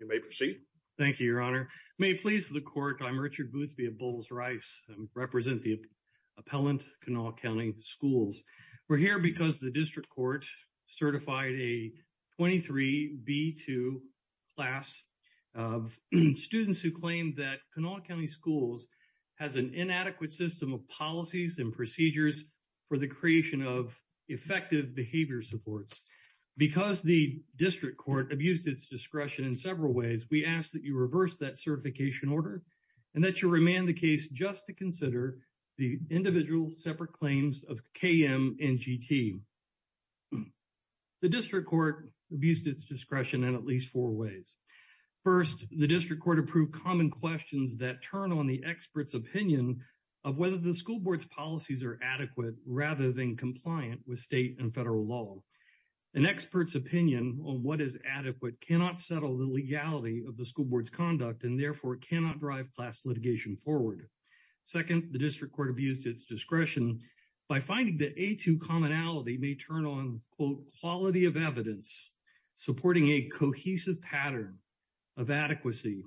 You may proceed. Thank you, Your Honor. May it please the Court, I'm Richard Boothby of Bowles-Rice, I represent the appellant Kanawha County Schools. We're here because the District Court certified a 23B2 class of students who claim that Kanawha for the creation of effective behavior supports. Because the District Court abused its discretion in several ways, we ask that you reverse that certification order and that you remand the case just to consider the individual separate claims of KM and GT. The District Court abused its discretion in at least four ways. First, the District Court approved common questions that turn on the expert's opinion of whether the school board's policies are adequate rather than compliant with state and federal law. An expert's opinion on what is adequate cannot settle the legality of the school board's conduct and therefore cannot drive class litigation forward. Second, the District Court abused its discretion by finding that A2 commonality may turn on quote quality of evidence supporting a cohesive pattern of adequacy.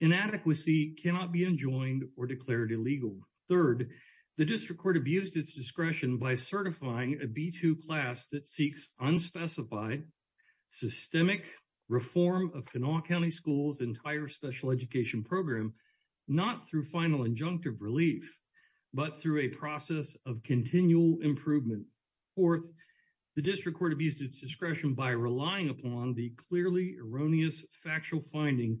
Inadequacy cannot be enjoined or declared illegal. Third, the District Court abused its discretion by certifying a B2 class that seeks unspecified systemic reform of Kanawha County Schools entire special education program, not through final injunctive relief, but through a process of continual improvement. Fourth, the District Court abused its discretion by relying upon the clearly erroneous factual finding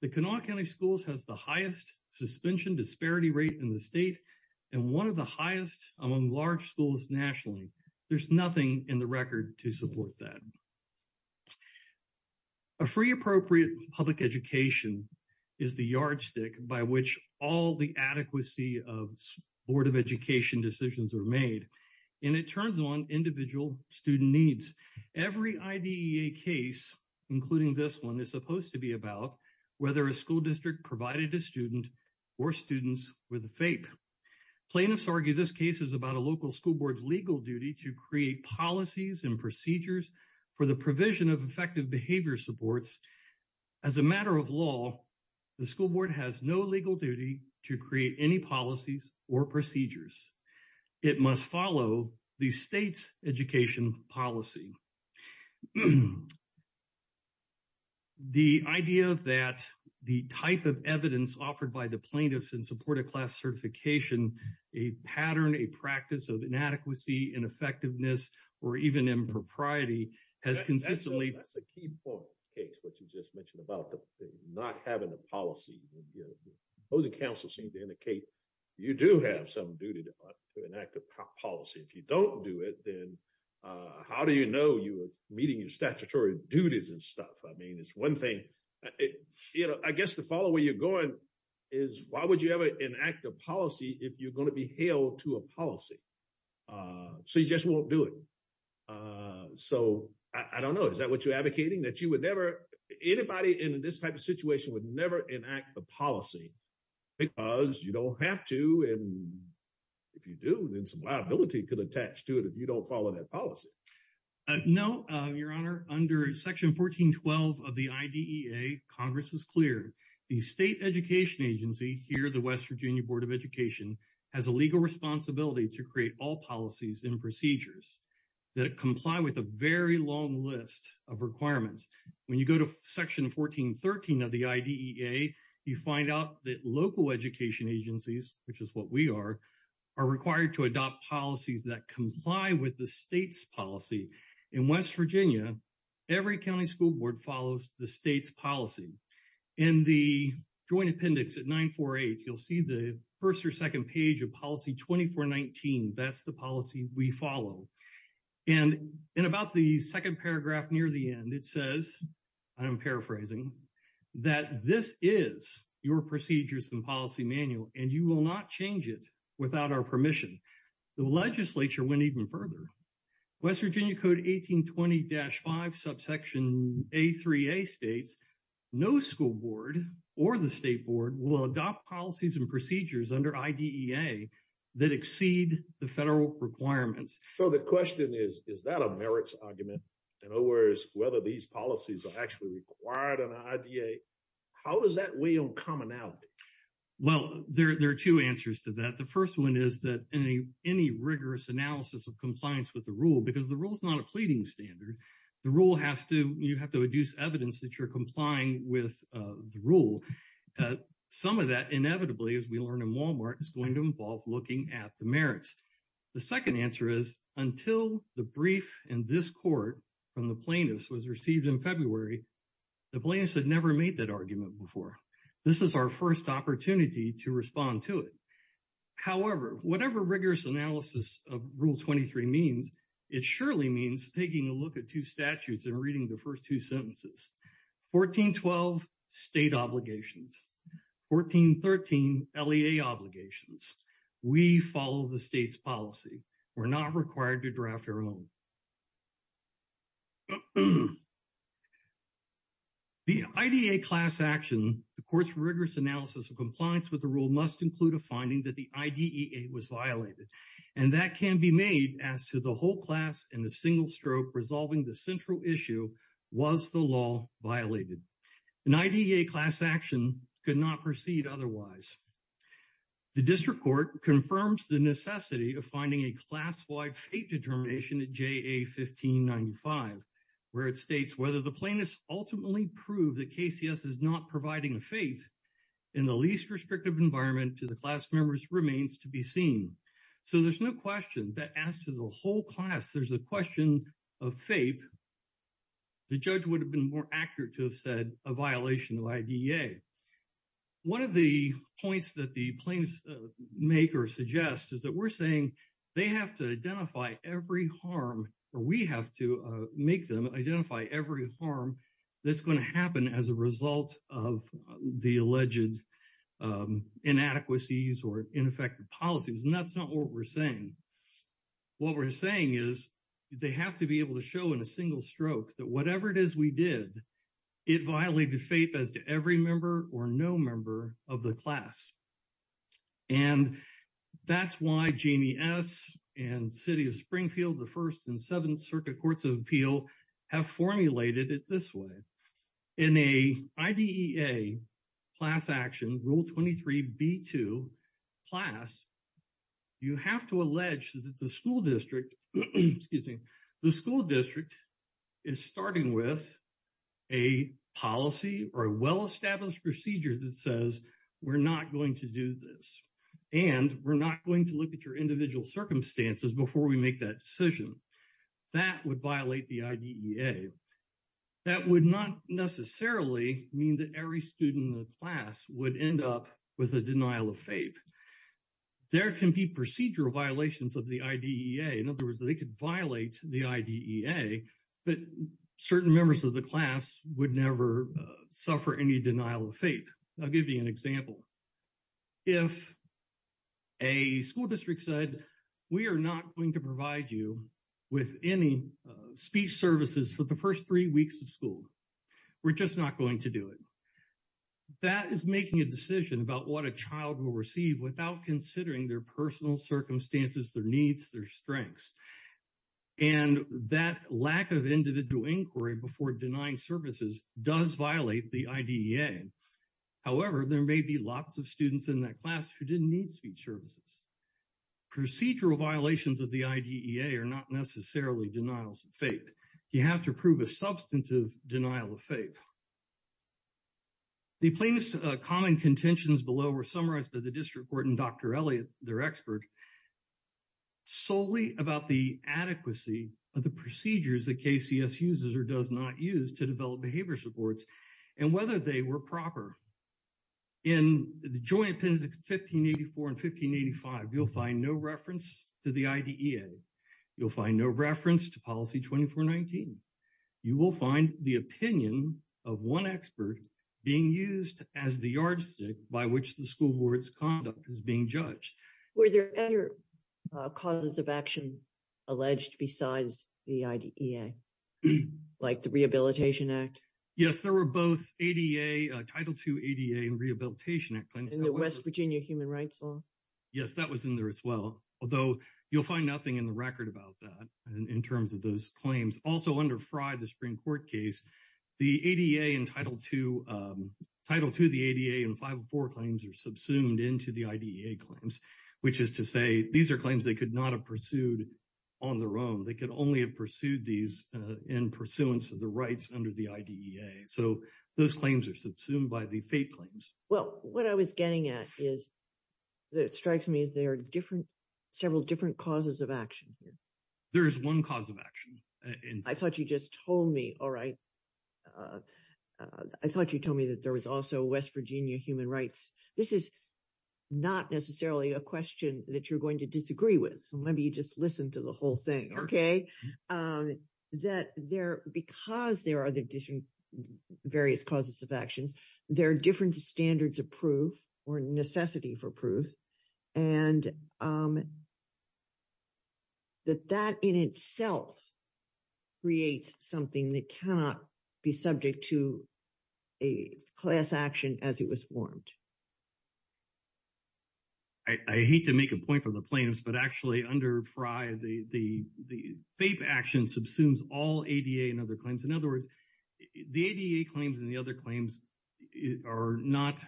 that Kanawha County Schools has the highest suspension disparity rate in the state and one of the highest among large schools nationally. There's nothing in the record to support that. A free appropriate public education is the yardstick by which all the adequacy of Board of Education decisions are made, and it turns on individual student needs. Every IDEA case, including this one, is supposed to be about whether a school district provided a student or students with a FAPE. Plaintiffs argue this case is about a local school board's legal duty to create policies and procedures for the provision of effective behavior supports. As a matter of law, the school board has no legal duty to create any policies or procedures. It must follow the state's education policy. The idea that the type of evidence offered by the plaintiffs in support of class certification, a pattern, a practice of inadequacy, ineffectiveness, or even impropriety has consistently- That's a key point, Cakes, what you just mentioned about not having a policy. Opposing counsel seem to indicate you do have some duty to enact a policy. If you don't do it, then how do you know you are meeting your statutory duties and stuff? I mean, it's one thing. I guess the follow where you're going is why would you ever enact a policy if you're going to be held to a policy? So you just won't do it. So I don't know. Is that what you're advocating? That you would never- Anybody in this type of situation would never enact a policy because you don't have to, and if you do, then some liability could attach to it if you don't follow that policy. No, Your Honor. Under Section 1412 of the IDEA, Congress has cleared the state education agency here, the West Virginia Board of Education, has a legal responsibility to create all policies and When you go to Section 1413 of the IDEA, you find out that local education agencies, which is what we are, are required to adopt policies that comply with the state's policy. In West Virginia, every county school board follows the state's policy. In the joint appendix at 948, you'll see the first or second page of policy 2419. That's the policy we follow. And in about the second paragraph near the end, it says, I'm paraphrasing, that this is your procedures and policy manual, and you will not change it without our permission. The legislature went even further. West Virginia Code 1820-5, subsection A3A states, no school board or the state board will adopt policies and procedures under IDEA that exceed the federal requirements. So the question is, is that a merits argument? In other words, whether these policies are actually required under IDEA? How does that weigh on commonality? Well, there are two answers to that. The first one is that any rigorous analysis of compliance with the rule, because the rule is not a pleading standard. The rule has to, you have to adduce evidence that you're complying with the rule. Some of that inevitably, as we learn in Walmart, is going to involve looking at the merits. The second answer is, until the brief in this court from the plaintiffs was received in February, the plaintiffs had never made that argument before. This is our first opportunity to respond to it. However, whatever rigorous analysis of Rule 23 means, it surely means taking a look at two statutes and reading the first two sentences. 1412, state obligations. 1413, LEA obligations. We follow the state's policy. We're not required to draft our own. The IDEA class action, the court's rigorous analysis of compliance with the rule must include a finding that the IDEA was violated. And that can be made as to the whole class in a single stroke, resolving the central issue, was the law violated? An IDEA class action could not proceed otherwise. The district court confirms the necessity of finding a class-wide FAPE determination at JA 1595, where it states whether the plaintiffs ultimately prove that KCS is not providing a FAPE in the least restrictive environment to the class members remains to be seen. So there's no question that as to the whole class, there's a question of FAPE. The judge would have been more accurate to have said a violation of IDEA. One of the points that the plaintiffs make or suggest is that we're saying they have to identify every harm, or we have to make them identify every harm that's going to happen as a result of the alleged inadequacies or ineffective policies. And that's not what we're saying. What we're saying is they have to be able to show in a single stroke that whatever it did, it violated FAPE as to every member or no member of the class. And that's why Jamie S. and City of Springfield, the First and Seventh Circuit Courts of Appeal, have formulated it this way. In an IDEA class action, Rule 23b2 class, you have to allege that the school district is starting with a policy or a well-established procedure that says, we're not going to do this. And we're not going to look at your individual circumstances before we make that decision. That would violate the IDEA. That would not necessarily mean that every student in the class would end up with a denial of FAPE. There can be procedural violations of the IDEA. In other words, they could violate the IDEA, but certain members of the class would never suffer any denial of FAPE. I'll give you an example. If a school district said, we are not going to provide you with any speech services for the first three weeks of school. We're just not going to do it. That is making a decision about what a child will receive without considering their personal circumstances, their needs, their strengths. And that lack of individual inquiry before denying services does violate the IDEA. However, there may be lots of students in that class who didn't need speech services. Procedural violations of the IDEA are not necessarily denials of FAPE. You have to prove a substantive denial of FAPE. The plainest common contentions below were summarized by the district court and Dr. Elliot, their expert, solely about the adequacy of the procedures that KCS uses or does not use to develop behavior supports and whether they were proper. In the joint opinions of 1584 and 1585, you'll find no reference to the IDEA. You'll find no reference to policy 2419. You will find the opinion of one expert being used as the yardstick by which the school board's conduct is being judged. Were there other causes of action alleged besides the IDEA, like the Rehabilitation Act? Yes, there were both ADA, Title II ADA and Rehabilitation Act claims. And the West Virginia Human Rights Law? Yes, that was in there as well. Although, you'll find nothing in the record about that in terms of those claims. Also under Frye, the Supreme Court case, the ADA and Title II, Title II, the ADA and 504 claims are subsumed into the IDEA claims, which is to say these are claims they could not have pursued on their own. They could only have pursued these in pursuance of the rights under the IDEA. So those claims are subsumed by the FAPE claims. Well, what I was getting at is that it strikes me as there are different, several different causes of action here. There is one cause of action. I thought you just told me, all right. I thought you told me that there was also West Virginia human rights. This is not necessarily a question that you're going to disagree with. So maybe you just listen to the whole thing, okay? That there, because there are various causes of actions, there are different standards of and that that in itself creates something that cannot be subject to a class action as it was formed. I hate to make a point for the plaintiffs, but actually under Frye, the FAPE action subsumes all ADA and other claims. In other words, the ADA claims and the other claims are not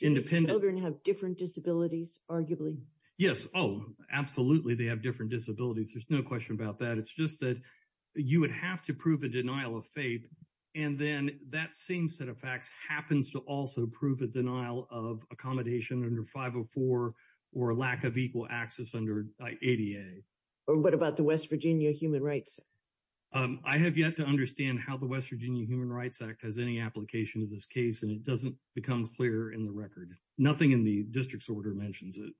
independent. Children have different disabilities, arguably. Yes. Oh, absolutely. They have different disabilities. There's no question about that. It's just that you would have to prove a denial of FAPE. And then that same set of facts happens to also prove a denial of accommodation under 504 or a lack of equal access under ADA. Or what about the West Virginia Human Rights? I have yet to understand how the West Virginia Human Rights Act has any application of this case, and it doesn't become clearer in the record. Nothing in the district's order mentions it.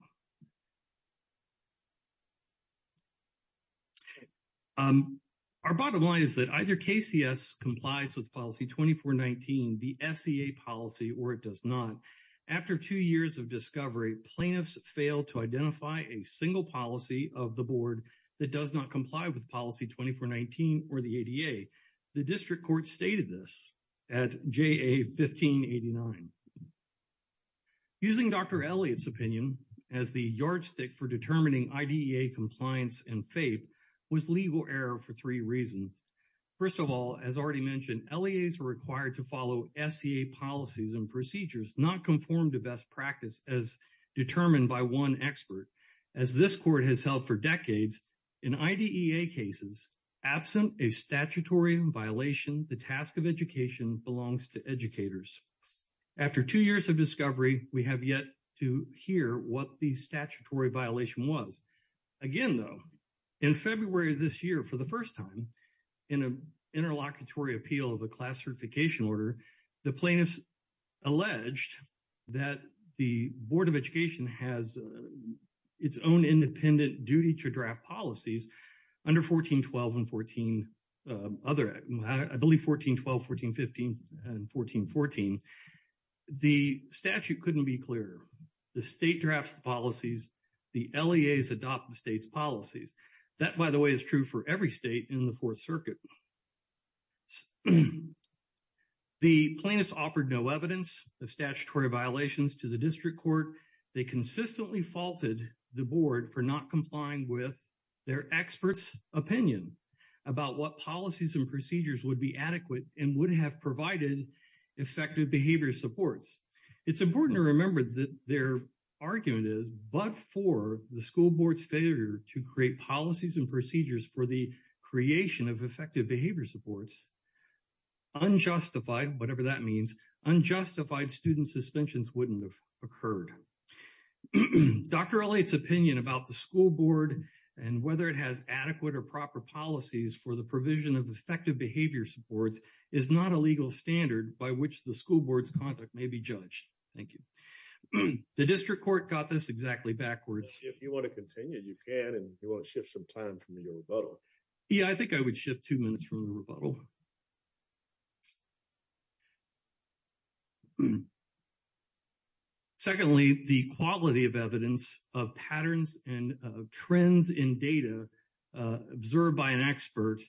Our bottom line is that either KCS complies with Policy 2419, the SEA policy, or it does not. After two years of discovery, plaintiffs fail to identify a single policy of the board that does not comply with Policy 2419 or the ADA. The district court stated this at JA 1589. Using Dr. Elliott's opinion as the yardstick for determining IDEA compliance and FAPE was legal error for three reasons. First of all, as already mentioned, LEAs are required to follow SEA policies and procedures not conformed to best practice as determined by one expert. As this court has held for decades, in IDEA cases, absent a statutory violation, the task of education belongs to educators. After two years of discovery, we have yet to hear what the statutory violation was. Again, though, in February of this year, for the first time in an interlocutory appeal of a class certification order, the plaintiffs alleged that the Board of Education has its own independent duty to draft policies under 1412 and 14 other, I believe 1412, 1415, and 1414. The statute couldn't be clearer. The state drafts the policies, the LEAs adopt the state's policies. That, by the way, is true for every state in the Fourth Circuit. The plaintiffs offered no evidence of statutory violations to the district court. They consistently faulted the board for not complying with their experts' opinion about what policies and procedures would be adequate and would have provided effective behavior supports. It's important to remember that their argument is, but for the school board's failure to create policies and procedures for the creation of effective behavior supports, unjustified, whatever that means, unjustified student suspensions wouldn't have occurred. Dr. Elliott's opinion about the school board and whether it has adequate or proper policies for the provision of effective behavior supports is not a legal standard by which the school board's conduct may be judged. Thank you. The district court got this exactly backwards. If you want to continue, you can, and you want to shift some time from your rebuttal. Yeah, I think I would shift two minutes from the rebuttal. So, secondly, the quality of evidence of patterns and trends in data observed by an expert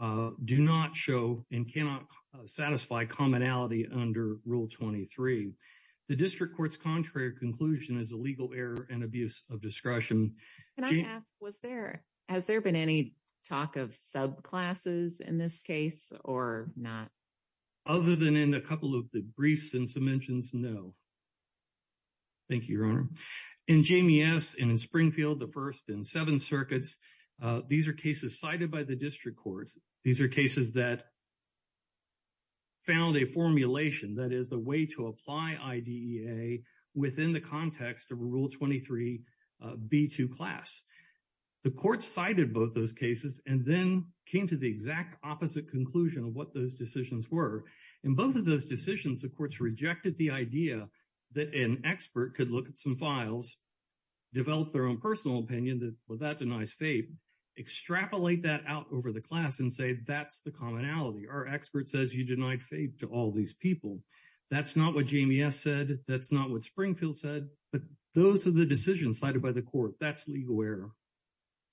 do not show and cannot satisfy commonality under Rule 23. The district court's contrary conclusion is a legal error and abuse of discretion. Can I ask, has there been any talk of subclasses in this case or not? Other than in a couple of the briefs and some mentions, no. Thank you, Your Honor. In JMES and in Springfield, the first in seven circuits, these are cases cited by the district court. These are cases that found a formulation that is the way to apply IDEA within the context of a Rule 23 B2 class. The court cited both those cases and then came to the exact opposite conclusion of what those decisions were. In both of those decisions, the courts rejected the idea that an expert could look at some files, develop their own personal opinion that, well, that denies FAPE, extrapolate that out over the class and say, that's the commonality. Our expert says you denied FAPE to all these people. That's not what JMES said. That's not what Springfield said. But those are the decisions cited by the court. That's legal error.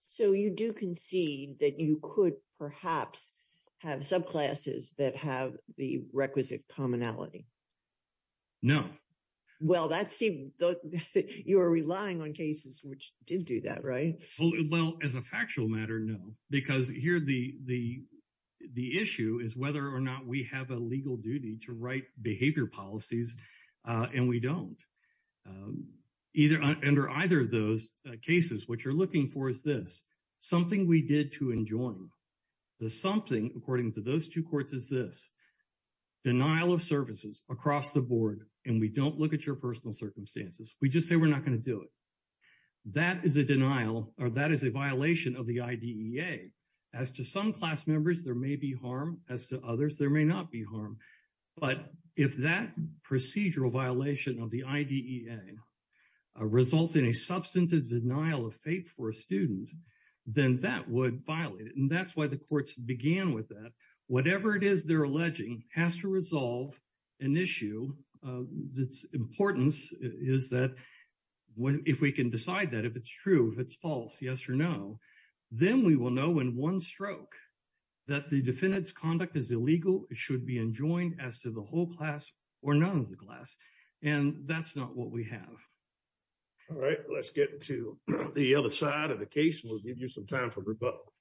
So, you do concede that you could perhaps have subclasses that have the requisite commonality? No. Well, that seems, you're relying on cases which did do that, right? Well, as a factual matter, no. Because here the issue is whether or not we have a legal duty to write behavior policies and we don't. Under either of those cases, what you're looking for is this. Something we did to enjoin. The something, according to those two courts, is this. Denial of services across the board and we don't look at your personal circumstances. We just say we're not going to do it. That is a denial or that is a violation of the IDEA. As to some class members, there may be harm. As to others, there may not be harm. But if that procedural violation of the IDEA results in a substantive denial of faith for a student, then that would violate it. And that's why the courts began with that. Whatever it is they're alleging has to resolve an issue. Its importance is that if we can decide that, if it's true, if it's false, yes or no, then we will know in one stroke that the defendant's conduct is illegal. It should be enjoined as to the whole class or none of the class. And that's not what we have. All right. Let's get to the other side of the case. We'll give you some time for rebuttal.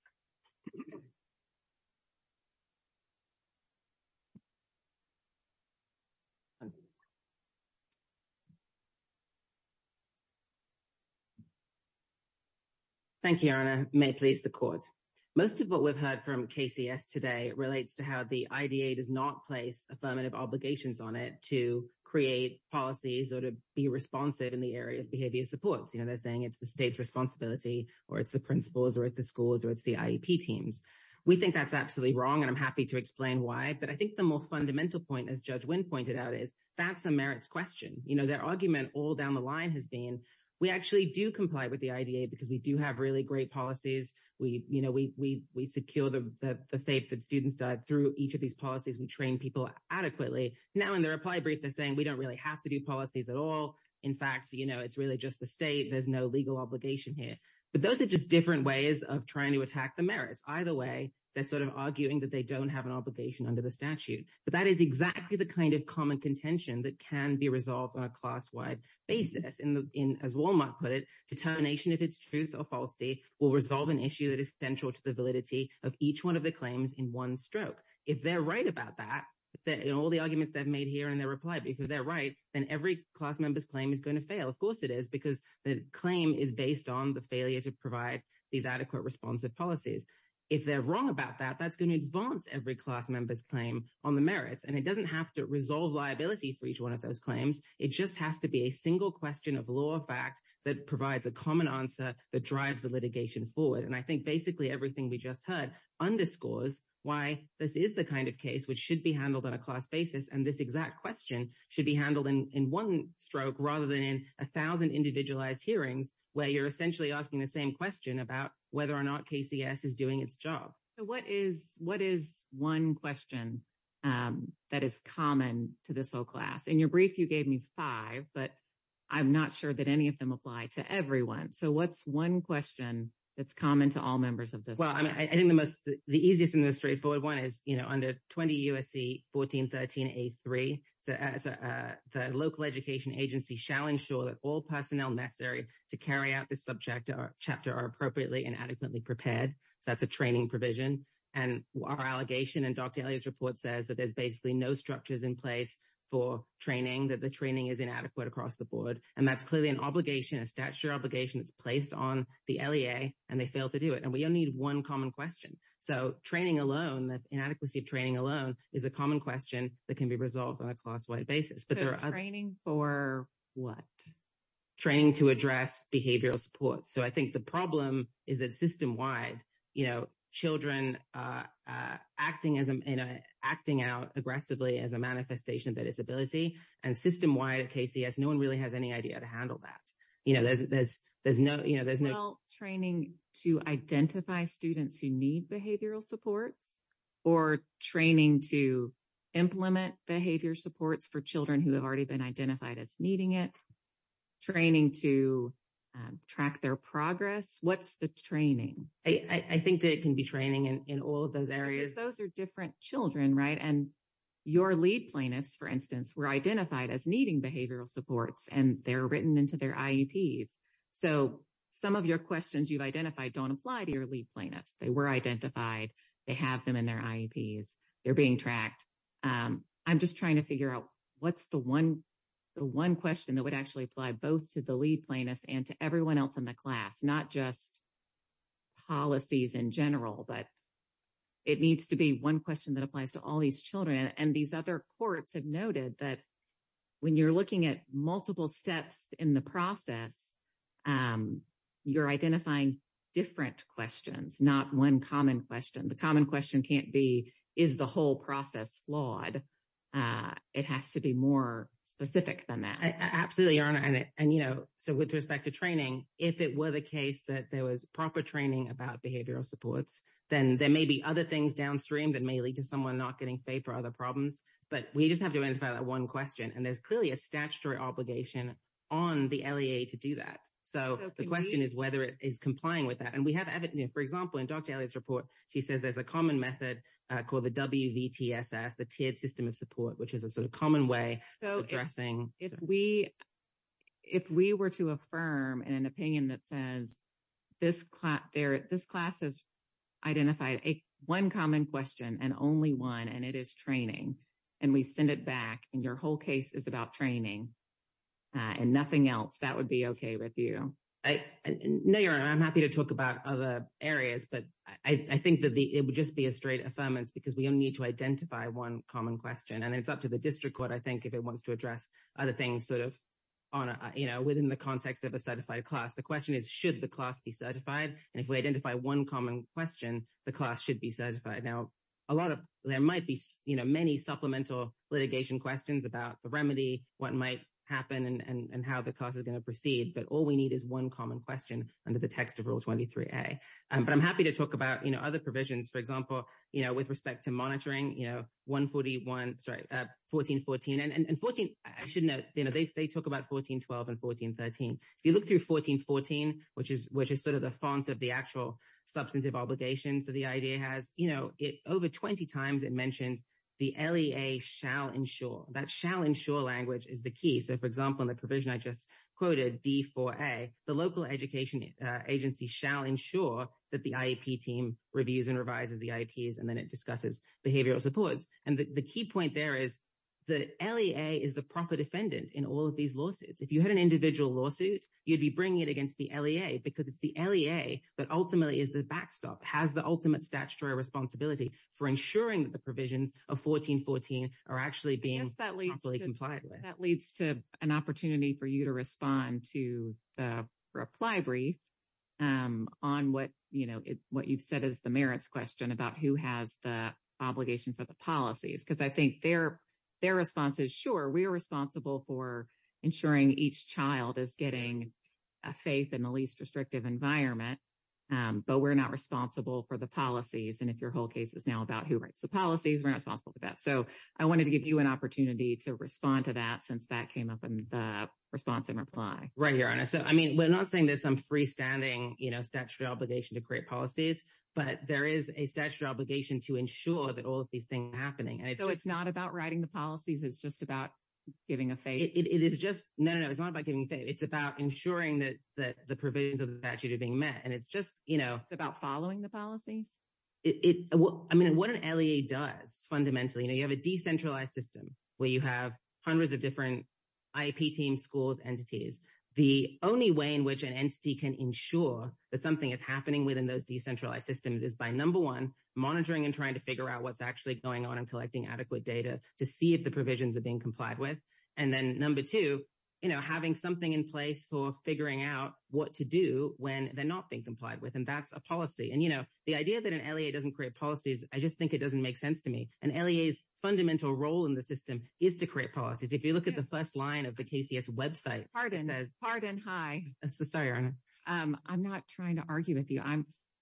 May it please the court. Most of what we've heard from KCS today relates to how the IDEA does not place affirmative obligations on it to create policies or to be responsive in the area of behavior support. They're saying it's the state's responsibility or it's the principal's or it's the school's or it's the IEP team's. We think that's absolutely wrong, and I'm happy to explain why. But I think the more fundamental point, as Judge Wynn pointed out, is that's a merits question. Their argument all down the line has been we actually do comply with the IDEA because we do have really great policies. We secure the faith that students died through each of these policies. We train people adequately. Now, in their reply brief, they're saying we don't really have to do policies at all. In fact, it's really just the state. There's no legal obligation here. But those are just different ways of trying to attack the merits. Either way, they're sort of arguing that they don't have an obligation under the statute. But that is exactly the kind of common contention that can be resolved on a class-wide basis. As Wal-Mart put it, determination of its truth or falsity will resolve an issue that is central to the validity of each one of the claims in one stroke. If they're right about that, in all the arguments they've made here in their reply brief, if they're right, then every class member's claim is going to fail. Of course it is, because the claim is based on the failure to provide these adequate responsive policies. If they're wrong about that, that's going to advance every class member's claim on the merits. And it doesn't have to resolve liability for each one of those claims. It just has to be a single question of law or fact that provides a common answer that drives the litigation forward. And I think basically everything we just heard underscores why this is the kind of case which should be handled on a class basis. And this exact question should be handled in one stroke rather than in a thousand individualized hearings where you're essentially asking the same question about whether or not KCS is doing its job. So what is one question that is common to this whole class? In your brief, you gave me five, but I'm not sure that any of them apply to everyone. So what's one question that's common to all members of this? Well, I think the easiest and the straightforward one is, you know, under 20 U.S.C. 1413A3, the local education agency shall ensure that all personnel necessary to carry out this subject or chapter are appropriately and adequately prepared. So that's a training provision. And our allegation in Dr. Elliott's report says that there's basically no structures in place for training, that the training is inadequate across the board. And that's clearly an obligation, a statutory obligation that's placed on the LEA, and they fail to do it. And we only need one common question. So training alone, the inadequacy of training alone, is a common question that can be resolved on a class-wide basis. So training for what? Training to address behavioral support. So I think the problem is that system-wide, you know, children acting out aggressively as a manifestation of their disability, and system-wide, KCS, no one really has any idea to handle that. You know, there's no, you know, there's no... Well, training to identify students who need behavioral supports, or training to implement behavior supports for children who have already been identified as needing it. Training to track their progress. What's the training? I think it can be training in all of those areas. Because those are different children, right? And your LEAD plaintiffs, for instance, were identified as needing behavioral supports, and they're written into their IEPs. So some of your questions you've identified don't apply to your LEAD plaintiffs. They were identified. They have them in their IEPs. They're being tracked. I'm just trying to figure out what's the one question that would actually apply both to the LEAD plaintiffs and to everyone else in the class, not just policies in general. But it needs to be one question that applies to all these children. And these other courts have noted that when you're looking at multiple steps in the process, you're identifying different questions, not one common question. The common question can't be, is the whole process flawed? It has to be more specific than that. Absolutely, Your Honor. And, you know, so with respect to training, if it were the case that there was proper training about behavioral supports, then there may be other things downstream that may lead to someone not getting FAPE or other problems. But we just have to identify that one question. And there's clearly a statutory obligation on the LEA to do that. So the question is whether it is complying with that. And we have evidence. For example, in Dr. Elliott's report, she says there's a common method called the WVTSS, the tiered system of support, which is a sort of common way of addressing. If we were to affirm an opinion that says this class has identified one common question, and only one, and it is training, and we send it back, and your whole case is about training and nothing else, that would be okay with you? No, Your Honor. I'm happy to talk about other areas. But I think that it would just be a straight affirmance because we don't need to identify one common question. It's up to the district court, I think, if it wants to address other things sort of within the context of a certified class. The question is, should the class be certified? And if we identify one common question, the class should be certified. Now, there might be many supplemental litigation questions about the remedy, what might happen, and how the class is going to proceed. But all we need is one common question under the text of Rule 23a. But I'm happy to talk about other provisions. For example, you know, with respect to monitoring, you know, 141, sorry, 1414. And 14, I should note, you know, they talk about 1412 and 1413. If you look through 1414, which is sort of the font of the actual substantive obligation that the IEA has, you know, over 20 times it mentions the LEA shall ensure. That shall ensure language is the key. So, for example, in the provision I just quoted, D4a, the local education agency shall ensure that the IEP team reviews and revises the IEPs, and then it discusses behavioral supports. And the key point there is the LEA is the proper defendant in all of these lawsuits. If you had an individual lawsuit, you'd be bringing it against the LEA because it's the LEA that ultimately is the backstop, has the ultimate statutory responsibility for ensuring that the provisions of 1414 are actually being properly complied with. That leads to an opportunity for you to respond to the reply brief on what, you know, what you've said is the merits question about who has the obligation for the policies. Because I think their response is, sure, we are responsible for ensuring each child is getting a faith in the least restrictive environment. But we're not responsible for the policies. And if your whole case is now about who writes the policies, we're not responsible for that. So, I wanted to give you an opportunity to respond to that since that came up in the response and reply. Right, Your Honor. So, I mean, we're not saying there's some freestanding, you know, statutory obligation to create policies. But there is a statutory obligation to ensure that all of these things are happening. And it's just... So, it's not about writing the policies? It's just about giving a faith? It is just... No, no, no. It's not about giving faith. It's about ensuring that the provisions of the statute are being met. It's about following the policies? I mean, what an LEA does fundamentally, you know, you have a decentralized system where you have hundreds of different IEP teams, schools, entities. The only way in which an entity can ensure that something is happening within those decentralized systems is by number one, monitoring and trying to figure out what's actually going on and collecting adequate data to see if the provisions are being complied with. And then number two, you know, having something in place for figuring out what to do when they're not being complied with. And that's a policy. And, you know, the idea that an LEA doesn't create policies, I just think it doesn't make sense to me. And LEA's fundamental role in the system is to create policies. If you look at the first line of the KCS website... Pardon. Pardon. Hi. So sorry, I'm not trying to argue with you.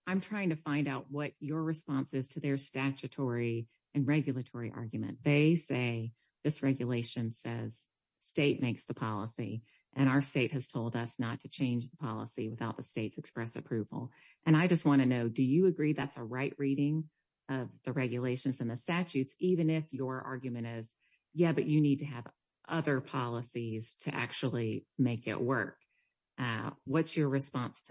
I'm trying to find out what your response is to their statutory and regulatory argument. They say this regulation says state makes the policy and our state has told us not to change the policy without the state's express approval. And I just want to know, do you agree that's a right reading of the regulations and the statutes, even if your argument is, yeah, but you need to have other policies to actually make it work? What's your response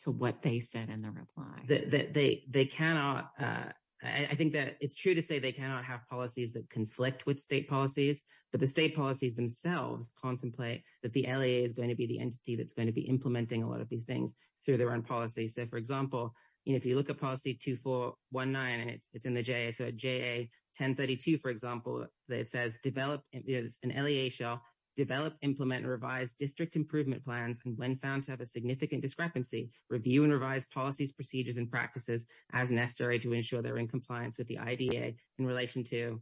to what they said in the reply? That they cannot... I think that it's true to say they cannot have policies that conflict with state policies, but the state policies themselves contemplate that the LEA is going to be the entity that's going to be implementing a lot of these things through their own policies. So, for example, if you look at policy 2419, it's in the JA. So, JA 1032, for example, it says develop an LEA shall develop, implement, and revise district improvement plans, and when found to have a significant discrepancy, review and revise policies, procedures, and practices as necessary to ensure they're in compliance with the IDA in relation to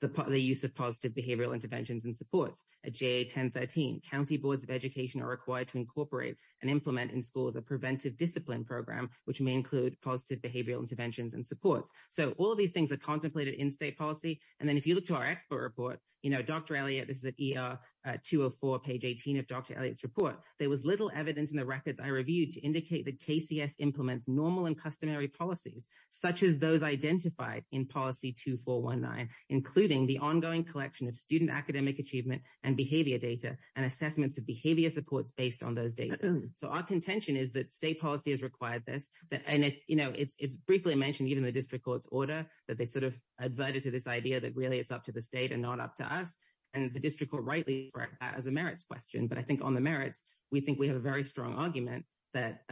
the use of positive behavioral interventions and supports. At JA 1013, county boards of education are required to incorporate and implement in schools a preventive discipline program, which may include positive behavioral interventions and supports. So, all of these things are contemplated in state policy, and then if you look to our expert report, you know, Dr. Elliott, this is at ER 204, page 18 of Dr. Elliott's report, there was little evidence in the records I reviewed to indicate that KCS implements normal and customary policies, such as those identified in policy 2419, including the ongoing collection of student academic achievement and behavior data, and assessments of behavior supports based on those data. So, our contention is that state policy has required this, and, you know, it's briefly mentioned even in the district court's order that they sort of adverted to this idea that really it's up to the state and not up to us, and the district court rightly correct that as a merits question. But I think on the merits, we think we have a very strong argument that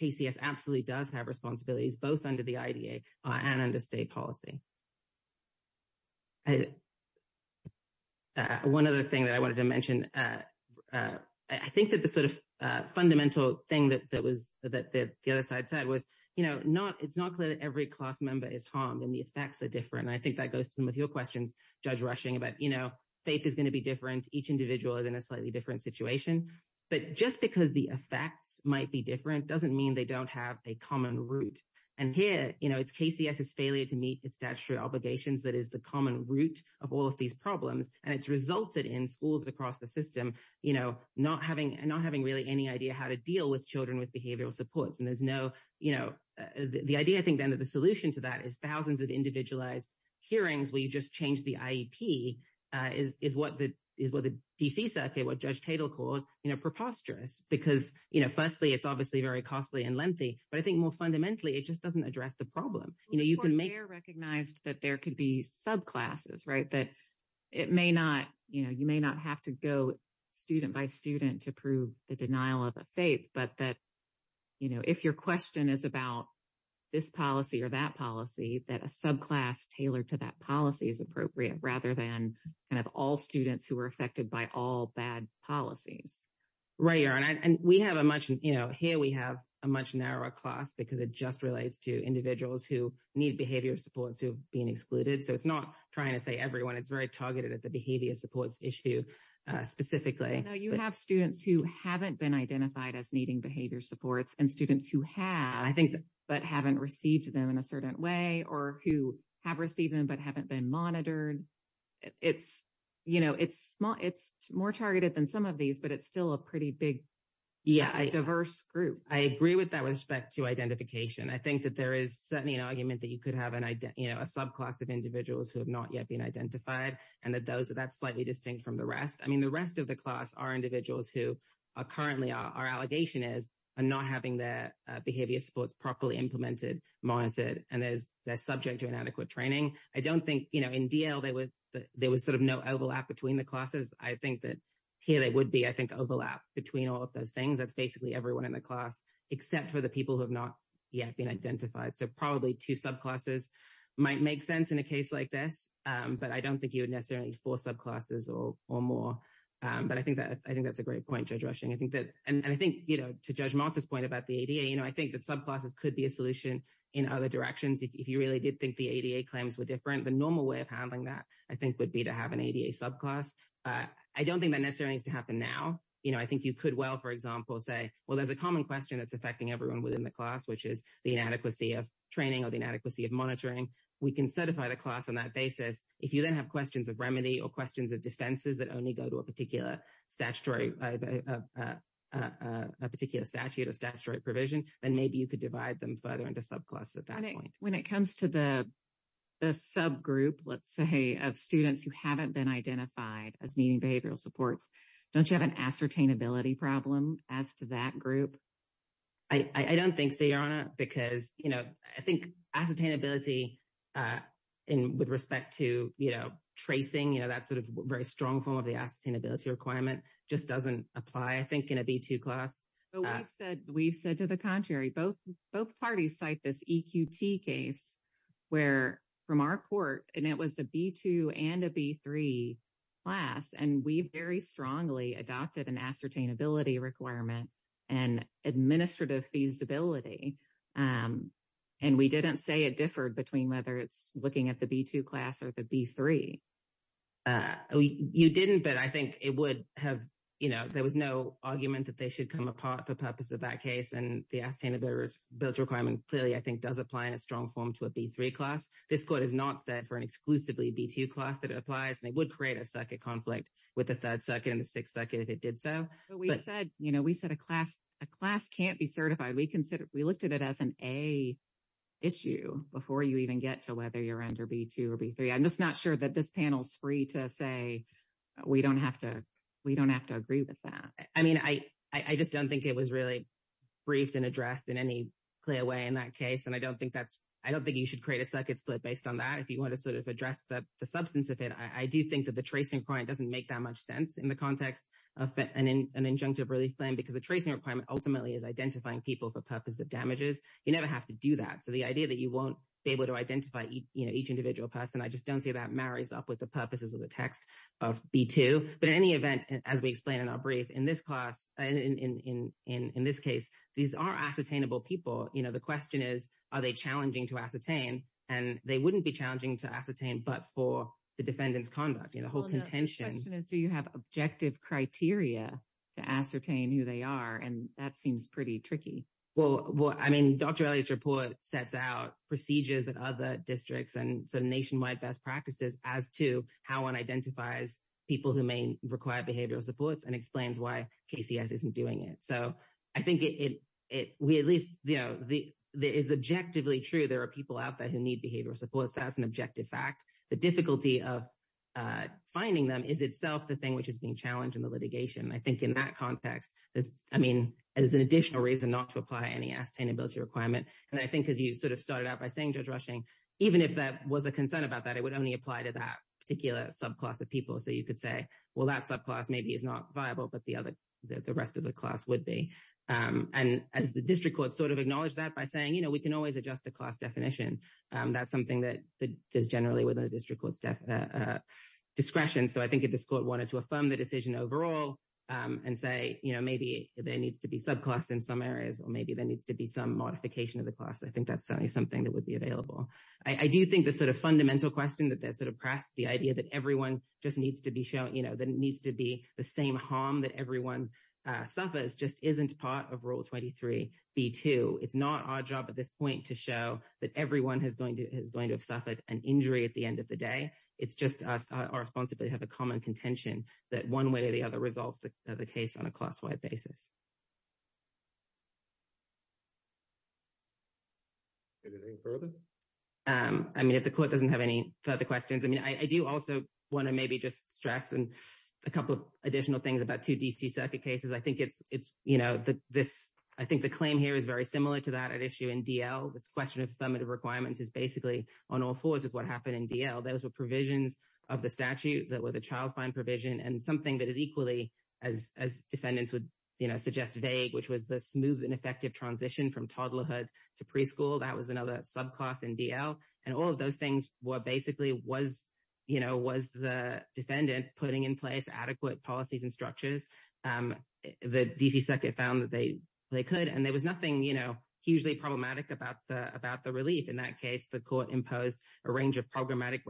KCS absolutely does have responsibilities both under the IDA and under state policy. I, one other thing that I wanted to mention, I think that the sort of fundamental thing that was, that the other side said was, you know, not, it's not clear that every class member is harmed and the effects are different, and I think that goes to some of your questions, Judge Rushing, about, you know, faith is going to be different, each individual is in a slightly different situation, but just because the effects might be different doesn't mean they don't have a common root. And here, you know, it's KCS's failure to meet its statutory obligations that is the common root of all of these problems, and it's resulted in schools across the system, you know, not having, not having really any idea how to deal with children with behavioral supports. And there's no, you know, the idea I think then that the solution to that is thousands of individualized hearings where you just change the IEP is what the, is what the DC circuit, what Judge Tatel called, you know, preposterous, because, you know, firstly, it's obviously very costly and lengthy, but I think more fundamentally, it just doesn't address the problem. You know, you can make. They're recognized that there could be subclasses, right, that it may not, you know, you may not have to go student by student to prove the denial of a faith, but that, you know, if your question is about this policy or that policy, that a subclass tailored to that policy is appropriate rather than kind of all students who were affected by all bad policies. Right, and we have a much, you know, here we have a much narrower class because it just relates to individuals who need behavior supports who have been excluded. So it's not trying to say everyone. It's very targeted at the behavior supports issue specifically. You have students who haven't been identified as needing behavior supports and students who have, I think, but haven't received them in a certain way or who have received them but haven't been monitored. It's, you know, it's more targeted than some of these, but it's still a pretty big diverse group. I agree with that with respect to identification. I think that there is certainly an argument that you could have, you know, a subclass of individuals who have not yet been identified and that that's slightly distinct from the rest. I mean, the rest of the class are individuals who are currently, our allegation is, are not having their behavior supports properly implemented, monitored, and they're subject to inadequate training. I don't think, you know, in DL, there was sort of no overlap between the classes. I think that here they would be, I think, overlap between all of those things. That's basically everyone in the class except for the people who have not yet been identified. So probably two subclasses might make sense in a case like this, but I don't think you would necessarily need four subclasses or more. But I think that's a great point, Judge Rushing. I think that, and I think, you know, to Judge Maltz's point about the ADA, you know, I think that subclasses could be a solution in other directions if you really did think the ADA claims were different. The normal way of handling that, I think, would be to have an ADA subclass. I don't think that necessarily needs to happen now. You know, I think you could well, for example, say, well, there's a common question that's affecting everyone within the class, which is the inadequacy of training or the inadequacy of monitoring. We can certify the class on that basis. If you then have questions of remedy or questions of defenses that only go to a particular statutory, a particular statute or statutory provision, then maybe you could divide them further into subclasses at that point. When it comes to the subgroup, let's say, of students who haven't been identified as needing behavioral supports, don't you have an ascertainability problem as to that group? I don't think so, Your Honor, because, you know, I think ascertainability with respect to, you know, tracing, you know, that sort of very strong form of the ascertainability requirement just doesn't apply, I think, in a B2 class. But we've said to the contrary. Both parties cite this EQT case where, from our court, and it was a B2 and a B3 class, and we very strongly adopted an ascertainability requirement and administrative feasibility, and we didn't say it differed between whether it's looking at the B2 class or the B3. You didn't, but I think it would have, you know, there was no argument that they should come apart for the purpose of that case, and the ascertainability requirement clearly, I think, does apply in a strong form to a B3 class. This court has not said for an exclusively B2 class that it applies, and it would create a circuit conflict with the third circuit and the sixth circuit if it did so. But we said, you know, we said a class can't be certified. We looked at it as an A issue before you even get to whether you're under B2 or B3. I'm just not sure that this panel's free to say we don't have to agree with that. I mean, I just don't think it was really briefed and addressed in any clear way in that case, and I don't think that's, I don't think you should create a circuit split based on that. If you want to sort of address the substance of it, I do think that the tracing point doesn't make that much sense in the context of an injunctive relief plan because the tracing requirement ultimately is identifying people for purposes of damages. You never have to do that. So, the idea that you won't be able to identify, you know, each individual person, I just don't see that marries up with the purposes of the text of B2. But in any event, as we explained in our brief, in this class, in this case, these are ascertainable people. You know, the question is, are they challenging to ascertain? And they wouldn't be challenging to ascertain but for the defendant's conduct, you know, the whole contention. The question is, do you have objective criteria to ascertain who they are? And that seems pretty tricky. Well, I mean, Dr. Elliott's report sets out procedures that other districts and nationwide best practices as to how one identifies people who may require behavioral supports and explains why KCS isn't doing it. So, I think it, we at least, you know, it's objectively true there are people out there who need behavioral supports. That's an objective fact. The difficulty of finding them is itself the thing which is being challenged in the litigation. I think in that context, there's, I mean, there's an additional reason not to apply any ascertainability requirement. And I think as you sort of started out by saying, Judge Rushing, even if that was a concern about that, it would only apply to that particular subclass of people. So, you could say, well, that subclass maybe is not viable but the other, the rest of the class would be. And as the district court sort of acknowledged that by saying, you know, we can always adjust the class definition. That's something that is generally within the district court's discretion. So, I think if this court wanted to affirm the decision overall and say, you know, maybe there needs to be subclass in some areas or maybe there needs to be some modification of the class, I think that's certainly something that would be available. I do think the sort of fundamental question that sort of pressed the idea that everyone just needs to be shown, you know, that it needs to be the same harm that everyone suffers just isn't part of Rule 23b2. It's not our job at this point to show that everyone is going to have suffered an injury at the end of the day. It's just us responsibly have a common contention that one way or the other resolves the case on a class-wide basis. Anything further? I mean, if the court doesn't have any further questions, I mean, I do also want to maybe just stress a couple of additional things about two D.C. circuit cases. I think it's, you know, I think the claim here is very similar to that at issue in D.L. This question of affirmative requirements is basically on all fours of what happened in D.L. Those were provisions of the statute that were the child fine provision and something that is equally, as defendants would, you know, suggest vague, which was the smooth and effective transition from toddlerhood to preschool. That was another subclass in D.L. And all of those things were basically was, you know, was the defendant putting in place adequate policies and structures? The D.C. circuit found that they could. And there was nothing, you know, hugely problematic about the relief. In that case, the court imposed a range of programmatic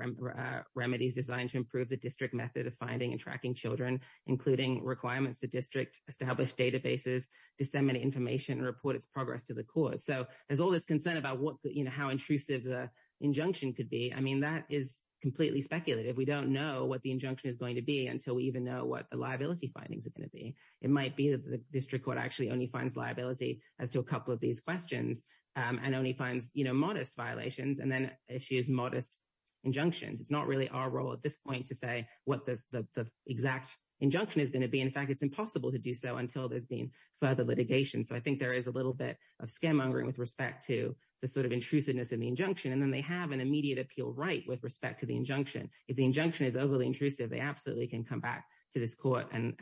remedies designed to improve the district method of finding and tracking children, including requirements the district established databases, disseminate information, and report its progress to the court. So there's all this concern about what, you know, how intrusive the injunction could be. I mean, that is completely speculative. We don't know what the injunction is going to be until we even know what the liability findings are going to be. It might be that the district court actually only finds liability as to a couple of these questions and only finds, you know, modest violations and then issues modest injunctions. It's not really our role at this point to say what the exact injunction is going to be. In fact, it's impossible to do so until there's been further litigation. So I think there is a little bit of scaremongering with respect to the sort of intrusiveness in the injunction. And then they have an immediate appeal right with respect to the injunction. If the injunction is overly intrusive, they absolutely can come back to this court and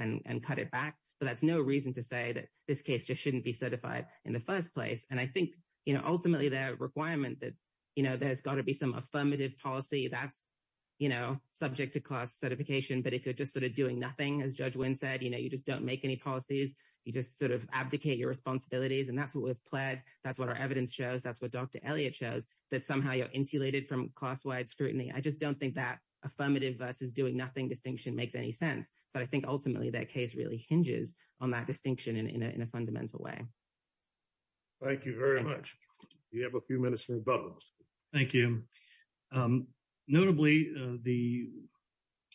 cut it back. But that's no reason to say that this case just shouldn't be certified in the first place. And I think, you know, ultimately, the requirement that, you know, there's got to be some affirmative policy that's, you know, subject to class certification. But if you're just sort of doing nothing, as Judge Wynn said, you know, you just don't make any policies. You just sort of abdicate your responsibilities. And that's what we've pled. That's what our evidence shows. That's what Dr. Elliott shows, that somehow you're insulated from class-wide scrutiny. I just don't think that affirmative versus doing nothing distinction makes any sense. But I think, ultimately, that case really hinges on that distinction in a fundamental way. Thank you very much. You have a few minutes for rebuttals. Thank you. Notably, the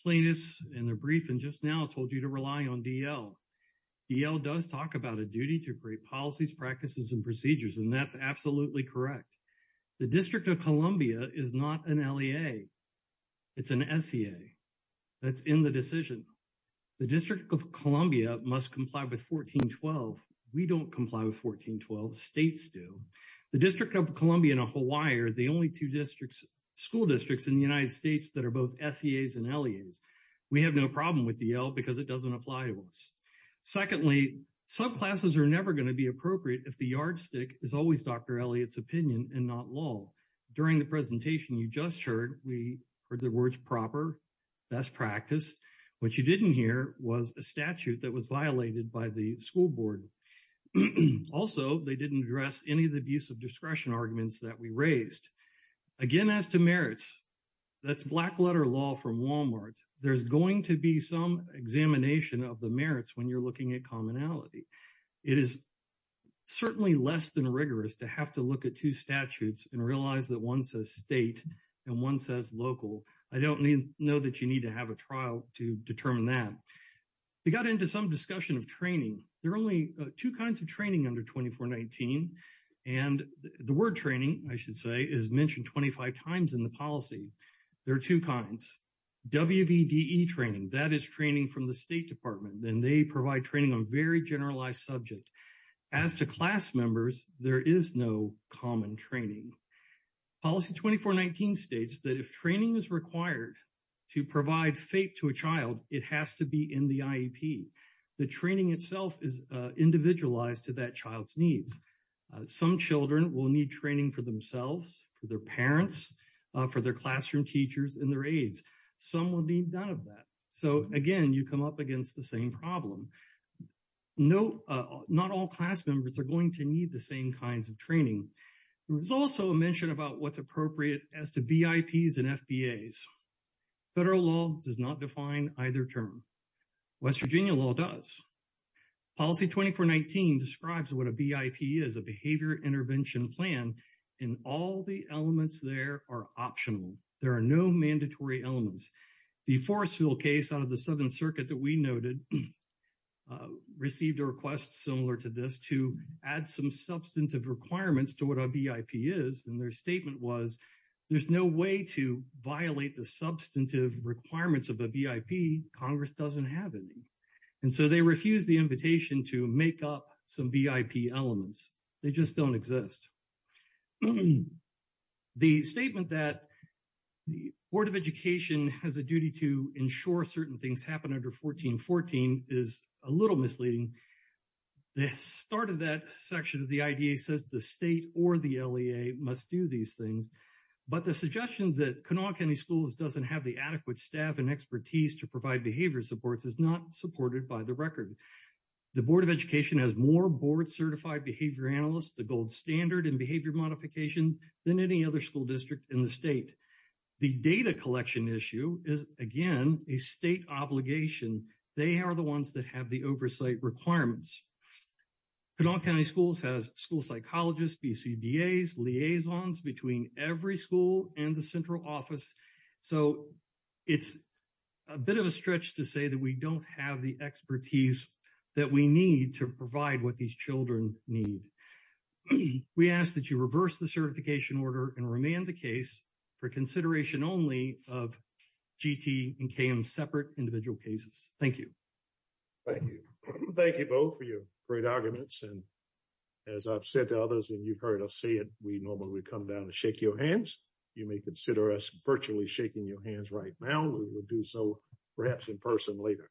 plaintiffs in their briefing just now told you to rely on DL. DL does talk about a duty to create policies, practices, and procedures. And that's absolutely correct. The District of Columbia is not an LEA. It's an SEA. That's in the decision. The District of Columbia must comply with 1412. We don't comply with 1412. States do. The District of Columbia and Ohio are the only two school districts in the United States that are both SEAs and LEAs. We have no problem with DL because it doesn't apply to us. Secondly, subclasses are never going to be appropriate if the yardstick is always Dr. Elliott's opinion and not law. During the presentation you just heard, we heard the words proper, best practice. What you didn't hear was a statute that was violated by the school board. And also, they didn't address any of the abuse of discretion arguments that we raised. Again, as to merits, that's black letter law from Walmart. There's going to be some examination of the merits when you're looking at commonality. It is certainly less than rigorous to have to look at two statutes and realize that one says state and one says local. I don't know that you need to have a trial to determine that. We got into some discussion of training. There are only two kinds of training under 2419. And the word training, I should say, is mentioned 25 times in the policy. There are two kinds. WVDE training, that is training from the State Department. And they provide training on very generalized subject. As to class members, there is no common training. Policy 2419 states that if training is required to provide FAPE to a child, it has to be in the IEP. The training itself is individualized to that child's needs. Some children will need training for themselves, for their parents, for their classroom teachers, and their aides. Some will need none of that. So again, you come up against the same problem. Not all class members are going to need the same kinds of training. There was also a mention about what's appropriate as to VIPs and FBAs. Federal law does not define either term. West Virginia law does. Policy 2419 describes what a VIP is, a behavior intervention plan. And all the elements there are optional. There are no mandatory elements. The Forestville case out of the Seventh Circuit that we noted received a request similar to this to add some substantive requirements to what a VIP is. And their statement was, there's no way to violate the substantive requirements of a VIP. Congress doesn't have any. And so they refused the invitation to make up some VIP elements. They just don't exist. The statement that the Board of Education has a duty to ensure certain things happen under 1414 is a little misleading. The start of that section of the IDEA says the state or the LEA must do these things. But the suggestion that Kanawha County Schools doesn't have the adequate staff and expertise to provide behavior supports is not supported by the record. The Board of Education has more board-certified behavior analysts, the gold standard in behavior modification, than any other school district in the state. The data collection issue is, again, a state obligation. They are the ones that have the oversight requirements. Kanawha County Schools has school psychologists, BCDAs, liaisons between every school and the central office. So it's a bit of a stretch to say that we don't have the expertise that we need to provide what these children need. We ask that you reverse the certification order and remand the case for consideration only of GT and KM separate individual cases. Thank you. Thank you. Thank you both for your great arguments. And as I've said to others, and you've heard us say it, we normally come down to shake your hands. You may consider us virtually shaking your hands right now. We will do so perhaps in person later.